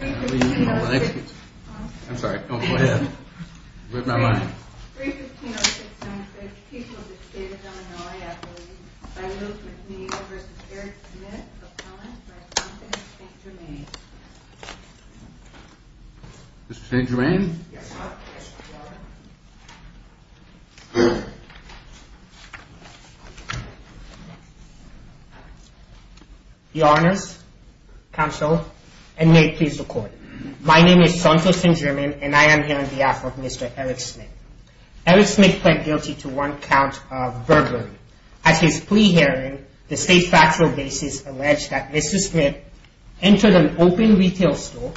I'm sorry, go ahead. Where's my line? Mr. St. Germain? Your Honor, counsel, and may it please the court. My name is Santos St. Germain and I am here on behalf of Mr. Eric Smith. Eric Smith pled guilty to one count of burglary. At his plea hearing, the state factual basis alleged that Mr. Smith entered an open retail store,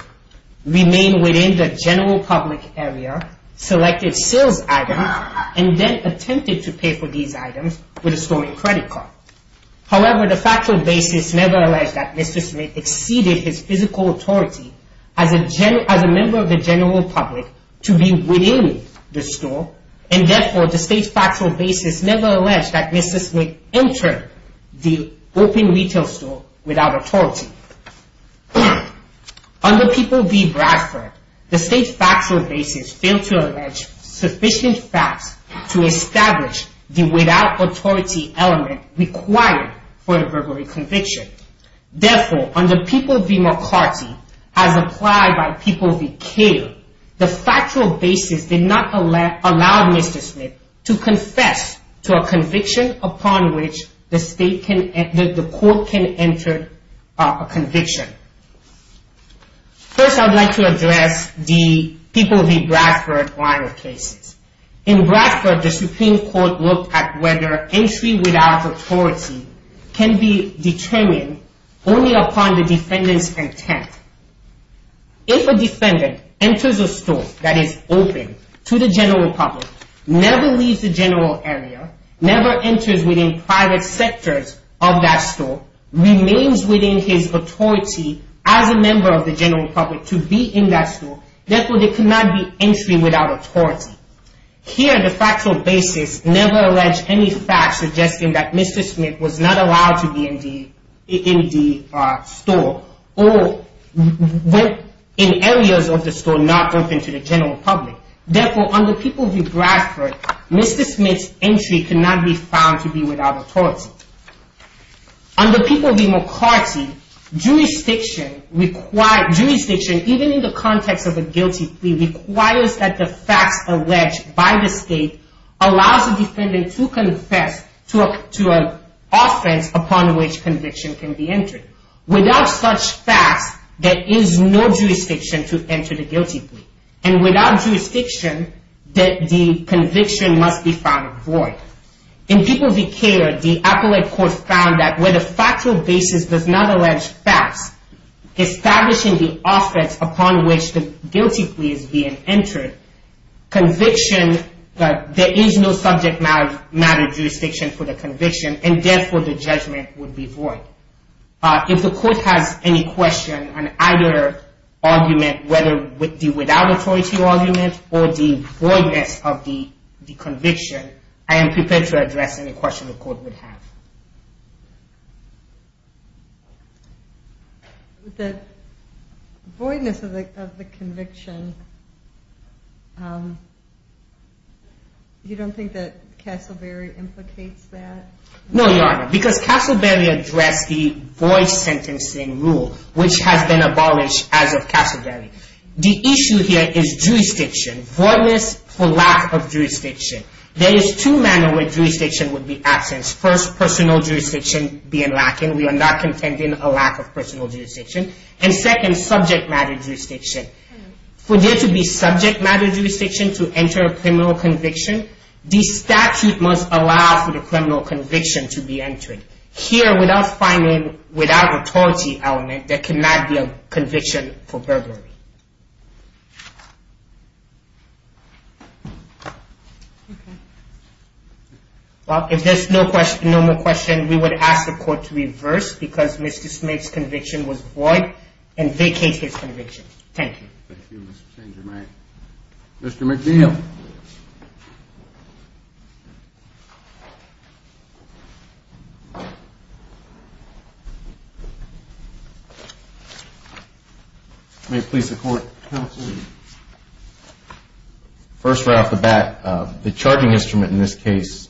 remained within the general public area, selected sales items, and then attempted to pay for these items with a stolen credit card. However, the factual basis never alleged that Mr. Smith exceeded his physical authority as a member of the general public to be within the store, and therefore, the state factual basis never alleged that Mr. Smith entered the open retail store without authority. Under People v. Bradford, the state factual basis failed to allege sufficient facts to establish the without authority element required for the burglary conviction. Therefore, under People v. McCarty, as applied by People v. Cato, the factual basis did not allow Mr. Smith to confess to a conviction upon which the court can enter a conviction. First, I would like to address the People v. Bradford viral cases. In Bradford, the Supreme Court looked at whether entry without authority can be determined only upon the defendant's intent. If a defendant enters a store that is open to the general public, never leaves the general area, never enters within private sectors of that store, remains within his authority as a member of the general public to be in that store, therefore, there cannot be entry without authority. Here, the factual basis never alleged any facts suggesting that Mr. Smith was not allowed to be in the store or in areas of the store not open to the general public. Therefore, under People v. Bradford, Mr. Smith's entry cannot be found to be without authority. Also, under People v. McCarty, jurisdiction even in the context of a guilty plea requires that the facts alleged by the state allows the defendant to confess to an offense upon which conviction can be entered. Without such facts, there is no jurisdiction to enter the guilty plea. And without jurisdiction, the conviction must be found void. In People v. Care, the appellate court found that where the factual basis does not allege facts, establishing the offense upon which the guilty plea is being entered, conviction, there is no subject matter jurisdiction for the conviction, and therefore, the judgment would be void. So, if the court has any question on either argument, whether the without authority argument or the voidness of the conviction, I am prepared to address any question the court would have. The voidness of the conviction, you don't think that Castleberry implicates that? No, Your Honor, because Castleberry addressed the void sentencing rule, which has been abolished as of Castleberry. The issue here is jurisdiction. Voidness for lack of jurisdiction. There is two manner where jurisdiction would be absent. First, personal jurisdiction being lacking. We are not contending a lack of personal jurisdiction. And second, subject matter jurisdiction. For there to be subject matter jurisdiction to enter a criminal conviction, the statute must allow for the criminal conviction to be entered. Here, without finding without authority element, there cannot be a conviction for burglary. Well, if there is no more question, we would ask the court to reverse because Mr. Smith's conviction was void and vacate his conviction. Thank you. Thank you, Mr. St. Germain. Mr. McNeil. First right off the bat, the charging instrument in this case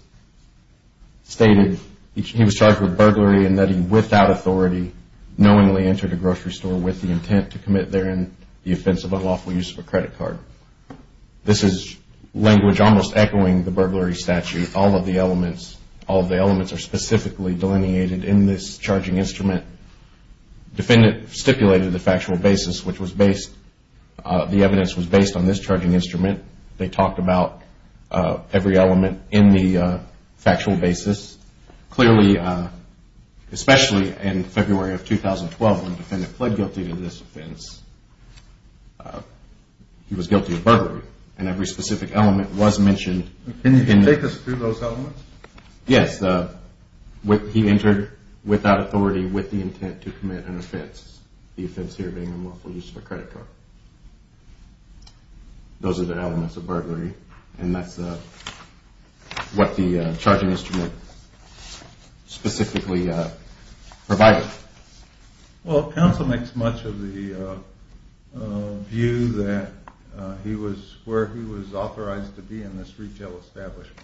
stated he was charged with burglary and that he, without authority, knowingly entered a grocery store with the intent to commit therein the offense of unlawful use of a credit card. This is language almost echoing the burglary statute. All of the elements are specifically delineated in this charging instrument. Defendant stipulated the factual basis which was based, the evidence was based on this charging instrument. They talked about every element in the factual basis. Clearly, especially in February of 2012 when the defendant pled guilty to this offense, he was guilty of burglary and every specific element was mentioned. Can you take us through those elements? Yes. He entered without authority with the intent to commit an offense, the offense here being unlawful use of a credit card. Those are the elements of burglary and that's what the charging instrument specifically provided. Well, counsel makes much of the view that he was where he was authorized to be in this retail establishment.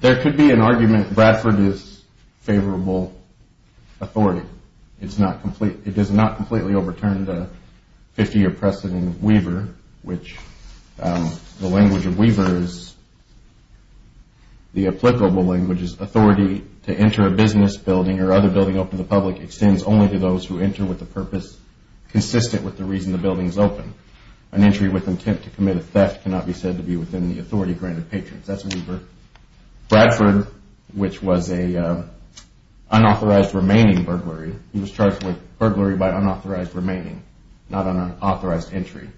There could be an argument that Bradford is favorable authority. It does not completely overturn the 50-year precedent of Weaver which the language of Weaver is, the applicable language is, authority to enter a business building or other building open to the public extends only to those who enter with a purpose consistent with the reason the building is open. An entry with intent to commit a theft cannot be said to be within the authority granted patrons. That's Weaver. Bradford, which was an unauthorized remaining burglary, he was charged with burglary by unauthorized remaining, not an unauthorized entry.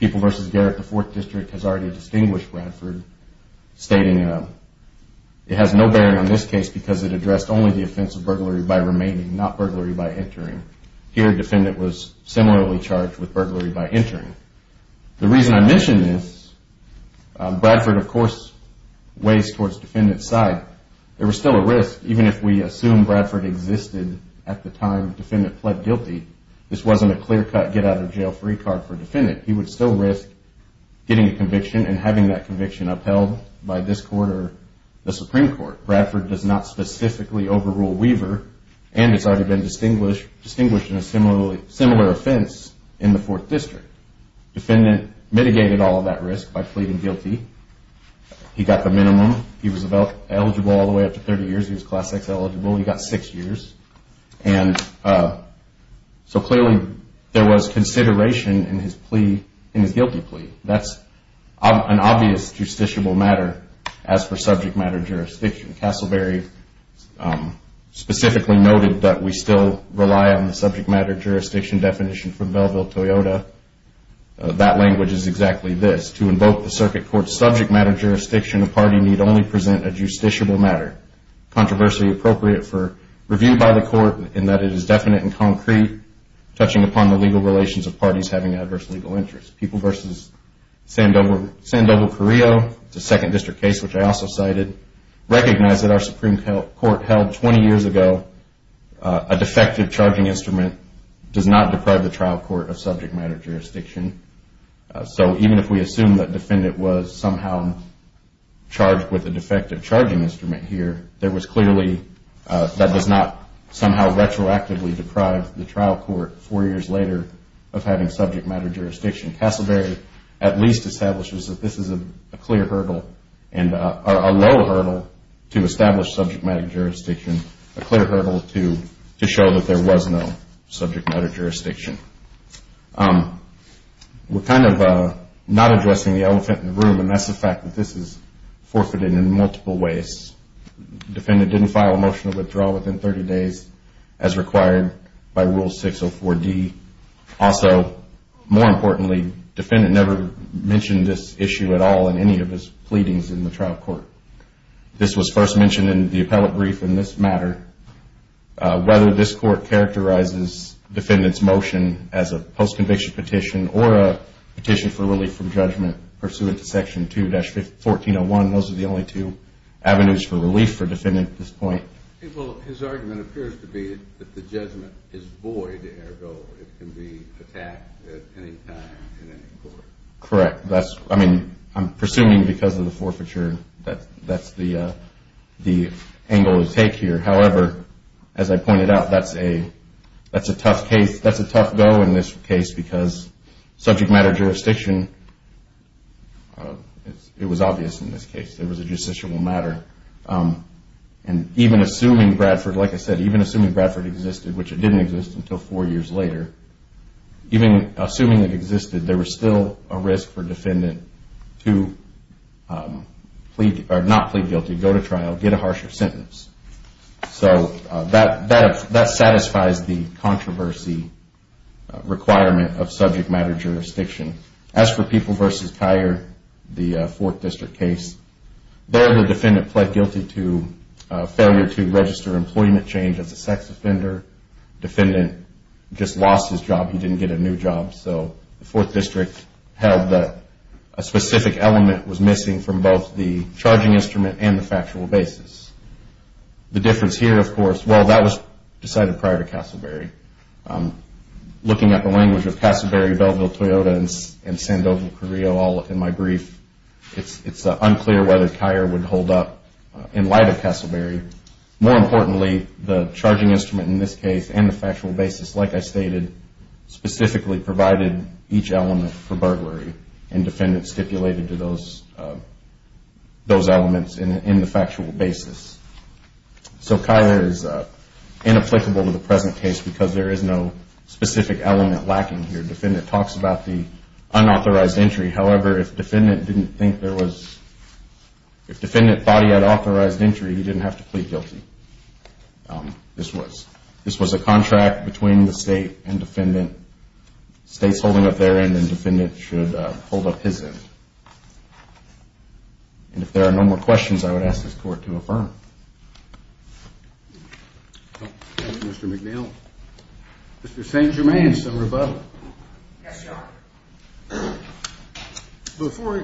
People v. Garrett, the fourth district, has already distinguished Bradford stating it has no bearing on this case because it addressed only the offense of burglary by remaining, not burglary by entering. Here, defendant was similarly charged with burglary by entering. The reason I mention this, Bradford, of course, weighs towards defendant's side. There was still a risk even if we assume Bradford existed at the time defendant pled guilty, this wasn't a clear cut get out of jail free card for defendant. He would still risk getting a conviction and having that conviction upheld by this court or the Supreme Court. Bradford does not specifically overrule Weaver and has already been distinguished in a similar offense in the fourth district. Defendant mitigated all of that risk by pleading guilty. He got the minimum. He was eligible all the way up to 30 years. He was class X eligible. He got six years. Clearly, there was consideration in his guilty plea. That's an obvious justiciable matter as per subject matter jurisdiction. Castleberry specifically noted that we still rely on the subject matter jurisdiction definition from Belleville-Toyota. That language is exactly this. To invoke the circuit court's subject matter jurisdiction, a party need only present a justiciable matter. I find that controversy appropriate for review by the court in that it is definite and concrete, touching upon the legal relations of parties having adverse legal interests. People v. Sandoval Carrillo, the second district case which I also cited, recognize that our Supreme Court held 20 years ago a defective charging instrument does not deprive the trial court of subject matter jurisdiction. Even if we assume that defendant was somehow charged with a defective charging instrument here, that does not somehow retroactively deprive the trial court four years later of having subject matter jurisdiction. Castleberry at least establishes that this is a low hurdle to establish subject matter jurisdiction, a clear hurdle to show that there was no subject matter jurisdiction. We're kind of not addressing the elephant in the room, and that's the fact that this is forfeited in multiple ways. Defendant didn't file a motion to withdraw within 30 days as required by Rule 604D. Also, more importantly, defendant never mentioned this issue at all in any of his pleadings in the trial court. This was first mentioned in the appellate brief in this matter. Whether this court characterizes defendant's motion as a post-conviction petition or a petition for relief from judgment pursuant to Section 2-1401, those are the only two avenues for relief for defendant at this point. Well, his argument appears to be that the judgment is void, ergo it can be attacked at any time in any court. Correct. I mean, I'm presuming because of the forfeiture that that's the angle to take here. However, as I pointed out, that's a tough case. That's a tough go in this case because subject matter jurisdiction, it was obvious in this case. It was a justiciable matter. And even assuming Bradford, like I said, even assuming Bradford existed, which it didn't exist until four years later, even assuming it existed, there was still a risk for defendant to not plead guilty, go to trial, get a harsher sentence. So that satisfies the controversy requirement of subject matter jurisdiction. As for People v. Kyer, the Fourth District case, there the defendant pled guilty to failure to register employment change as a sex offender. Defendant just lost his job. He didn't get a new job. So the Fourth District held that a specific element was missing from both the charging instrument and the factual basis. The difference here, of course, well, that was decided prior to Casselberry. Looking at the language of Casselberry, Belleville, Toyota, and Sandoval Carrillo all in my brief, it's unclear whether Kyer would hold up in light of Casselberry. More importantly, the charging instrument in this case and the factual basis, like I stated, specifically provided each element for burglary and defendant stipulated to those elements in the factual basis. So Kyer is inapplicable to the present case because there is no specific element lacking here. Defendant talks about the unauthorized entry. However, if defendant thought he had authorized entry, he didn't have to plead guilty. This was a contract between the State and defendant. State's holding up their end and defendant should hold up his end. And if there are no more questions, I would ask this Court to affirm. Thank you, Mr. McNeil. Mr. St. Germain, some rebuttal. Yes, Your Honor. Before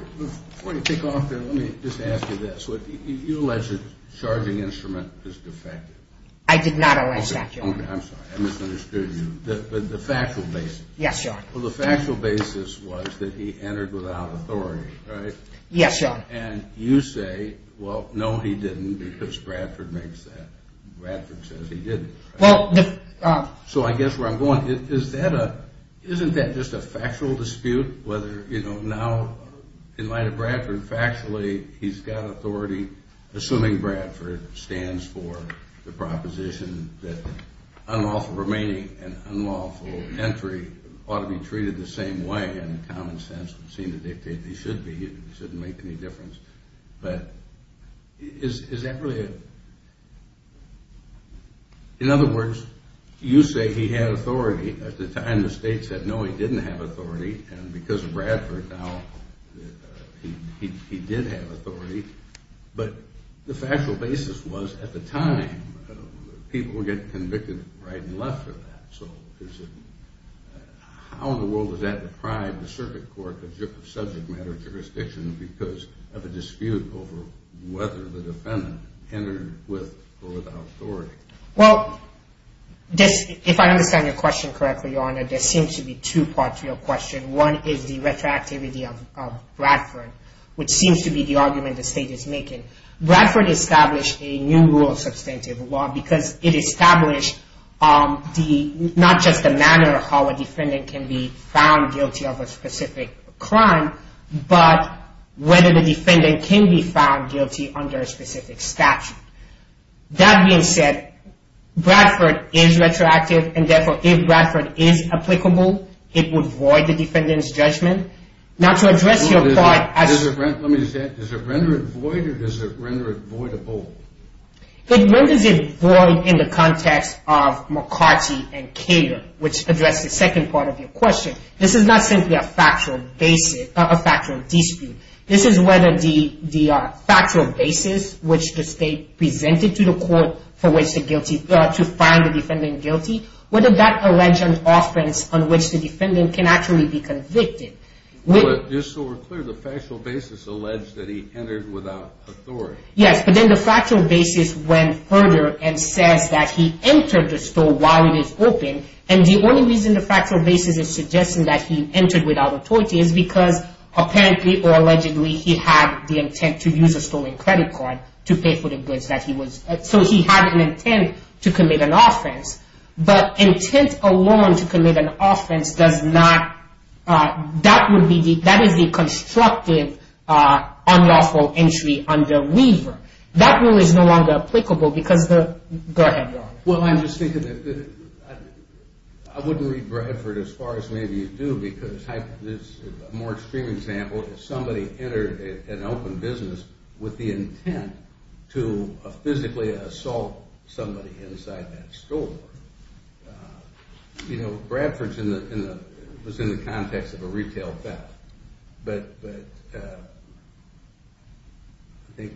you kick off there, let me just ask you this. You allege that the charging instrument is defective. I did not allege that, Your Honor. I'm sorry, I misunderstood you. The factual basis. Yes, Your Honor. Well, the factual basis was that he entered without authority, right? Yes, Your Honor. And you say, well, no, he didn't because Bradford makes that. Bradford says he didn't. So I guess where I'm going, isn't that just a factual dispute whether, you know, now in light of Bradford factually he's got authority, assuming Bradford stands for the proposition that unlawful remaining and unlawful entry ought to be treated the same way. And common sense would seem to dictate they should be. It shouldn't make any difference. But is that really a – in other words, you say he had authority. At the time the state said, no, he didn't have authority, and because of Bradford now he did have authority. But the factual basis was at the time people get convicted right and left for that. So how in the world does that deprive the circuit court of subject matter jurisdiction because of a dispute over whether the defendant entered with or without authority? Well, if I understand your question correctly, Your Honor, there seems to be two parts to your question. One is the retroactivity of Bradford, which seems to be the argument the state is making. Bradford established a new rule of substantive law because it established not just the manner of how a defendant can be found guilty of a specific crime, but whether the defendant can be found guilty under a specific statute. That being said, Bradford is retroactive, and therefore if Bradford is applicable, it would void the defendant's judgment. Now to address your point – Does it render it void or does it render it voidable? It renders it void in the context of McCarty and Cato, which address the second part of your question. This is not simply a factual dispute. This is whether the factual basis which the state presented to the court to find the defendant guilty, whether that alleged offense on which the defendant can actually be convicted. Just so we're clear, the factual basis alleged that he entered without authority. Yes, but then the factual basis went further and says that he entered the store while it is open, and the only reason the factual basis is suggesting that he entered without authority is because apparently or allegedly he had the intent to use a stolen credit card to pay for the goods that he was – so he had an intent to commit an offense, but intent alone to commit an offense does not – that is the constructive unlawful entry under Weaver. That rule is no longer applicable because the – go ahead, Ron. Well, I'm just thinking that I wouldn't read Bradford as far as maybe you do because a more extreme example is somebody entered an open business with the intent to physically assault somebody inside that store. You know, Bradford was in the context of a retail theft, but I think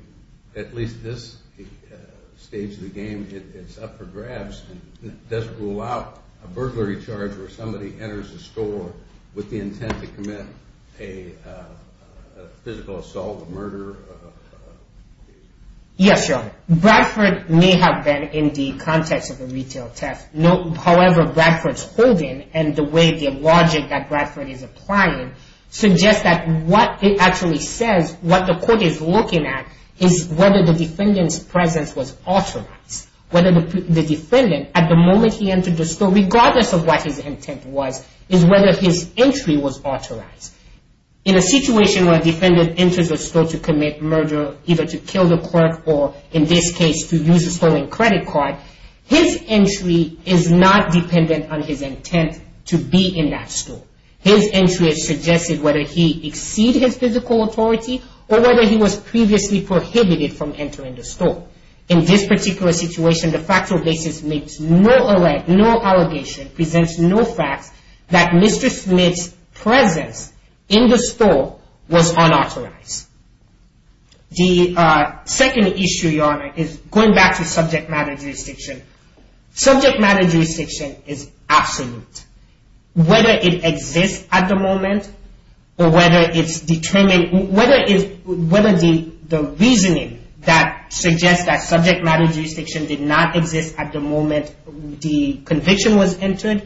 at least this stage of the game, it's up for grabs. It doesn't rule out a burglary charge where somebody enters a store with the intent to commit a physical assault, a murder. Yes, Your Honor. Bradford may have been in the context of a retail theft. However, Bradford's holding and the way the logic that Bradford is applying suggests that what it actually says, what the court is looking at, is whether the defendant's presence was authorized. Whether the defendant, at the moment he entered the store, regardless of what his intent was, is whether his entry was authorized. In a situation where a defendant enters a store to commit murder, either to kill the clerk or, in this case, to use a stolen credit card, his entry is not dependent on his intent to be in that store. His entry has suggested whether he exceeded his physical authority or whether he was previously prohibited from entering the store. In this particular situation, the factual basis makes no allegation, presents no facts that Mr. Smith's presence in the store was unauthorized. The second issue, Your Honor, is going back to subject matter jurisdiction. Subject matter jurisdiction is absolute. Whether it exists at the moment or whether the reasoning that suggests that subject matter jurisdiction did not exist at the moment the conviction was entered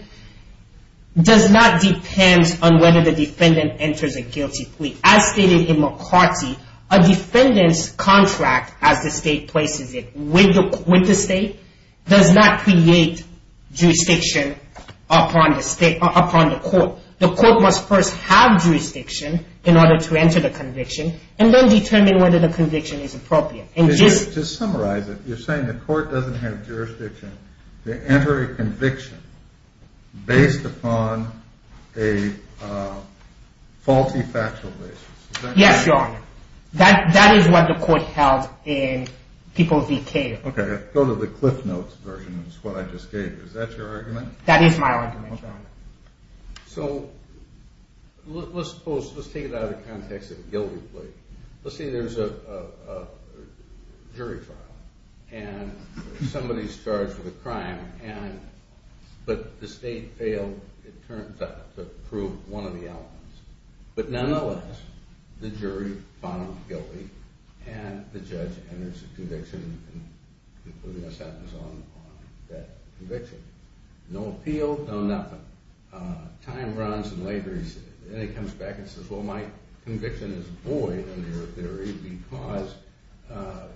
does not depend on whether the defendant enters a guilty plea. As stated in McCarty, a defendant's contract, as the state places it, with the state does not create jurisdiction upon the court. The court must first have jurisdiction in order to enter the conviction and then determine whether the conviction is appropriate. Just to summarize it, you're saying the court doesn't have jurisdiction to enter a conviction based upon a faulty factual basis. Yes, Your Honor. That is what the court held in people's detail. Okay, go to the Cliff Notes version of what I just gave. Is that your argument? That is my argument, Your Honor. So let's take it out of the context of a guilty plea. Let's say there's a jury trial, and somebody's charged with a crime, but the state failed, it turns out, to prove one of the elements. But nonetheless, the jury found him guilty, and the judge enters a conviction including a sentence on that conviction. No appeal, no nothing. Time runs, and later he comes back and says, well, my conviction is void under your theory because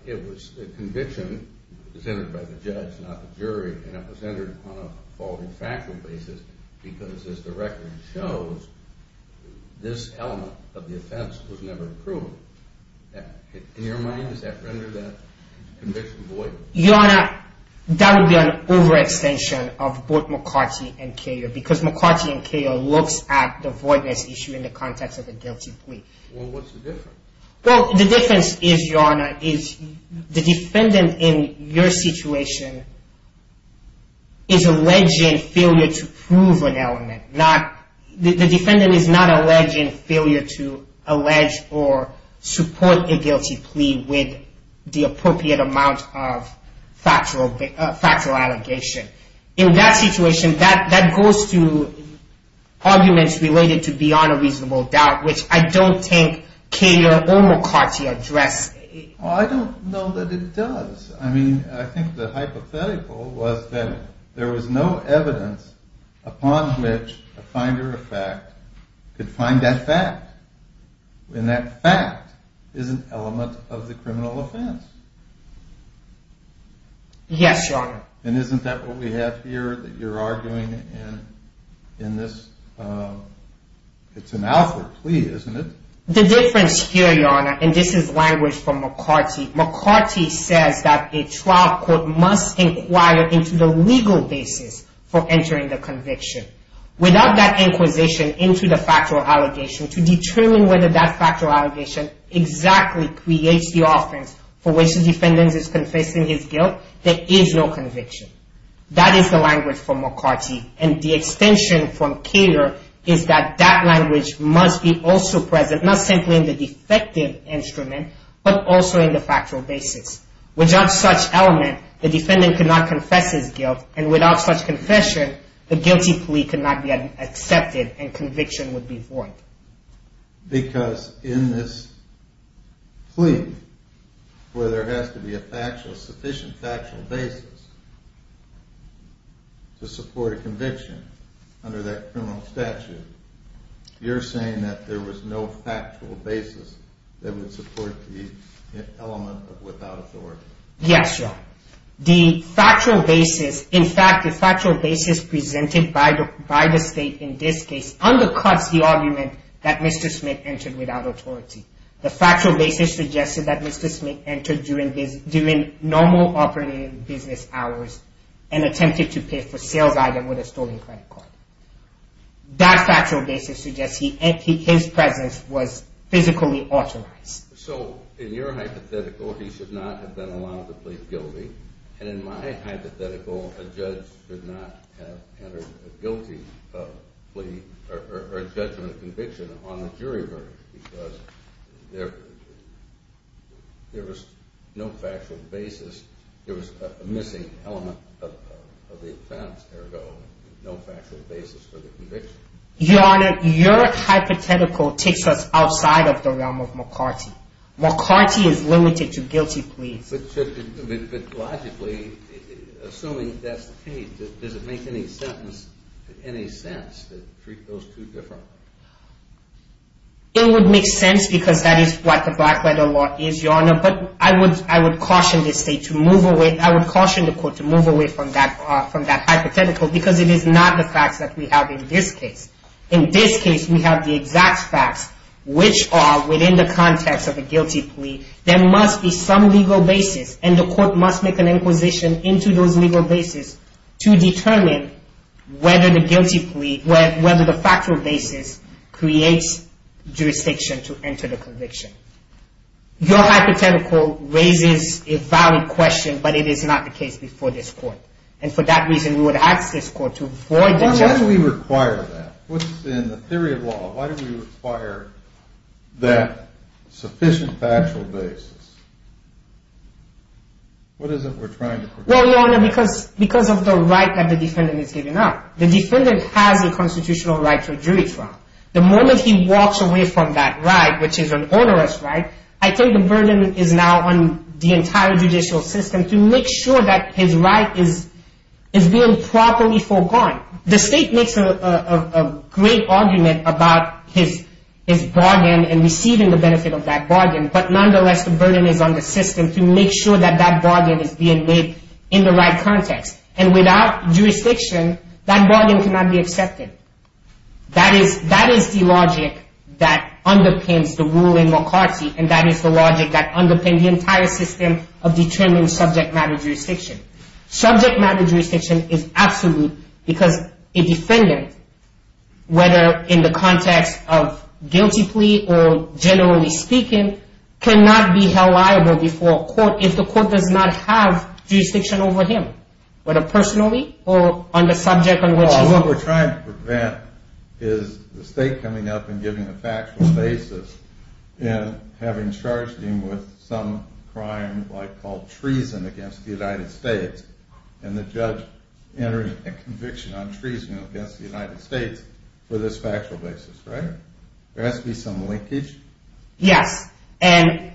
it was a conviction presented by the judge, not the jury, and it was entered on a faulty factual basis because, as the record shows, this element of the offense was never proved. In your mind, does that render that conviction void? Your Honor, that would be an overextension of both McCarty and Cahill because McCarty and Cahill looks at the voidness issue in the context of a guilty plea. Well, what's the difference? Well, the difference is, Your Honor, is the defendant in your situation is alleging failure to prove an element. The defendant is not alleging failure to allege or support a guilty plea with the appropriate amount of factual allegation. In that situation, that goes to arguments related to beyond a reasonable doubt, which I don't think Cahill or McCarty address. Well, I don't know that it does. I mean, I think the hypothetical was that there was no evidence upon which a finder of fact could find that fact. And that fact is an element of the criminal offense. Yes, Your Honor. And isn't that what we have here that you're arguing in this? It's an alpha plea, isn't it? The difference here, Your Honor, and this is language from McCarty, McCarty says that a trial court must inquire into the legal basis for entering the conviction. Without that inquisition into the factual allegation, to determine whether that factual allegation exactly creates the offense for which the defendant is confessing his guilt, there is no conviction. That is the language from McCarty. And the extension from Cater is that that language must be also present, not simply in the defective instrument, but also in the factual basis. Without such element, the defendant cannot confess his guilt. And without such confession, the guilty plea could not be accepted and conviction would be void. Because in this plea, where there has to be a factual, sufficient factual basis to support a conviction under that criminal statute, you're saying that there was no factual basis that would support the element of without authority. Yes, Your Honor. The factual basis, in fact, the factual basis presented by the State in this case undercuts the argument that Mr. Smith entered without authority. The factual basis suggested that Mr. Smith entered during normal operating business hours and attempted to pay for sales items with a stolen credit card. That factual basis suggests his presence was physically authorized. So in your hypothetical, he should not have been allowed to plead guilty. And in my hypothetical, a judge should not have entered a guilty plea or a judgment of conviction on the jury verdict because there was no factual basis. There was a missing element of the offense, ergo no factual basis for the conviction. Your Honor, your hypothetical takes us outside of the realm of McCarty. McCarty is limited to guilty pleas. But logically, assuming that's the case, does it make any sense to treat those two differently? It would make sense because that is what the Blackletter Law is, Your Honor. But I would caution the State to move away, I would caution the Court to move away from that hypothetical because it is not the facts that we have in this case. In this case, we have the exact facts, which are within the context of a guilty plea. There must be some legal basis, and the Court must make an inquisition into those legal basis to determine whether the factual basis creates jurisdiction to enter the conviction. Your hypothetical raises a valid question, but it is not the case before this Court. And for that reason, we would ask this Court to avoid the judgment. Why do we require that? What's in the theory of law? Why do we require that sufficient factual basis? What is it we're trying to protect? Well, Your Honor, because of the right that the defendant is giving up. The defendant has a constitutional right to a jury trial. The moment he walks away from that right, which is an onerous right, I think the burden is now on the entire judicial system to make sure that his right is being properly foregone. The State makes a great argument about his bargain and receiving the benefit of that bargain, but nonetheless, the burden is on the system to make sure that that bargain is being made in the right context. And without jurisdiction, that bargain cannot be accepted. That is the logic that underpins the rule in McCarthy, and that is the logic that underpins the entire system of determining subject matter jurisdiction. Subject matter jurisdiction is absolute because a defendant, whether in the context of guilty plea or generally speaking, cannot be held liable before a court if the court does not have jurisdiction over him, whether personally or on the subject on which he's... Well, what we're trying to prevent is the State coming up and giving a factual basis and having charged him with some crime called treason against the United States, and the judge entering a conviction on treason against the United States for this factual basis, right? There has to be some linkage. Yes, and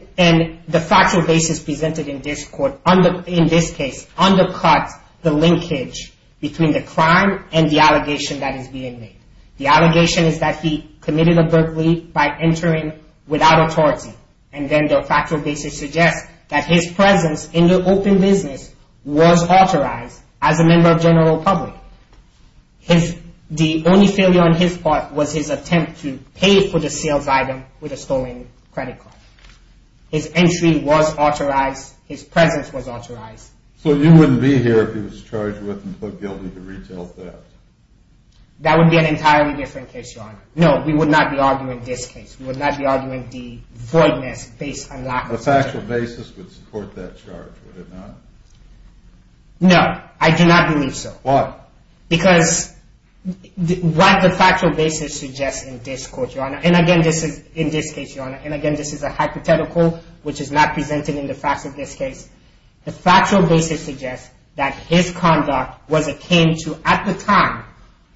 the factual basis presented in this court, in this case, undercuts the linkage between the crime and the allegation that is being made. The allegation is that he committed a burglary by entering without authority, and then the factual basis suggests that his presence in the open business was authorized as a member of general public. The only failure on his part was his attempt to pay for the sales item with a stolen credit card. His entry was authorized, his presence was authorized. So you wouldn't be here if he was charged with and put guilty to retail theft? That would be an entirely different case, Your Honor. No, we would not be arguing this case. We would not be arguing the voidness based on lack of evidence. The factual basis would support that charge, would it not? No, I do not believe so. Why? Because what the factual basis suggests in this court, Your Honor, and again, this is a hypothetical which is not presented in the facts of this case. The factual basis suggests that his conduct was akin to, at the time,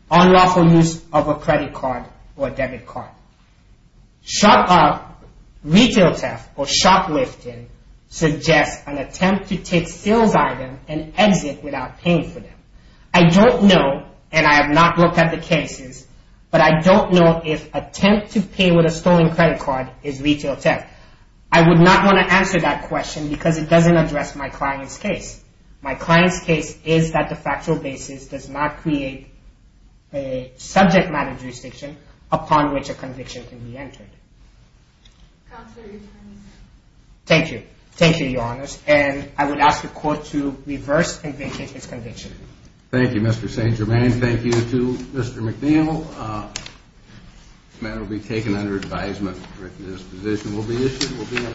unlawful use of a credit card or debit card. Retail theft or shoplifting suggests an attempt to take a sales item and exit without paying for them. I don't know, and I have not looked at the cases, but I don't know if attempt to pay with a stolen credit card is retail theft. I would not want to answer that question because it doesn't address my client's case. My client's case is that the factual basis does not create a subject matter jurisdiction upon which a conviction can be entered. Counselor, your time is up. Thank you. Thank you, Your Honors. And I would ask the Court to reverse and vacate this conviction. Thank you, Mr. St. Germain. Thank you to Mr. McNeil. This matter will be taken under advisement. This position will be issued.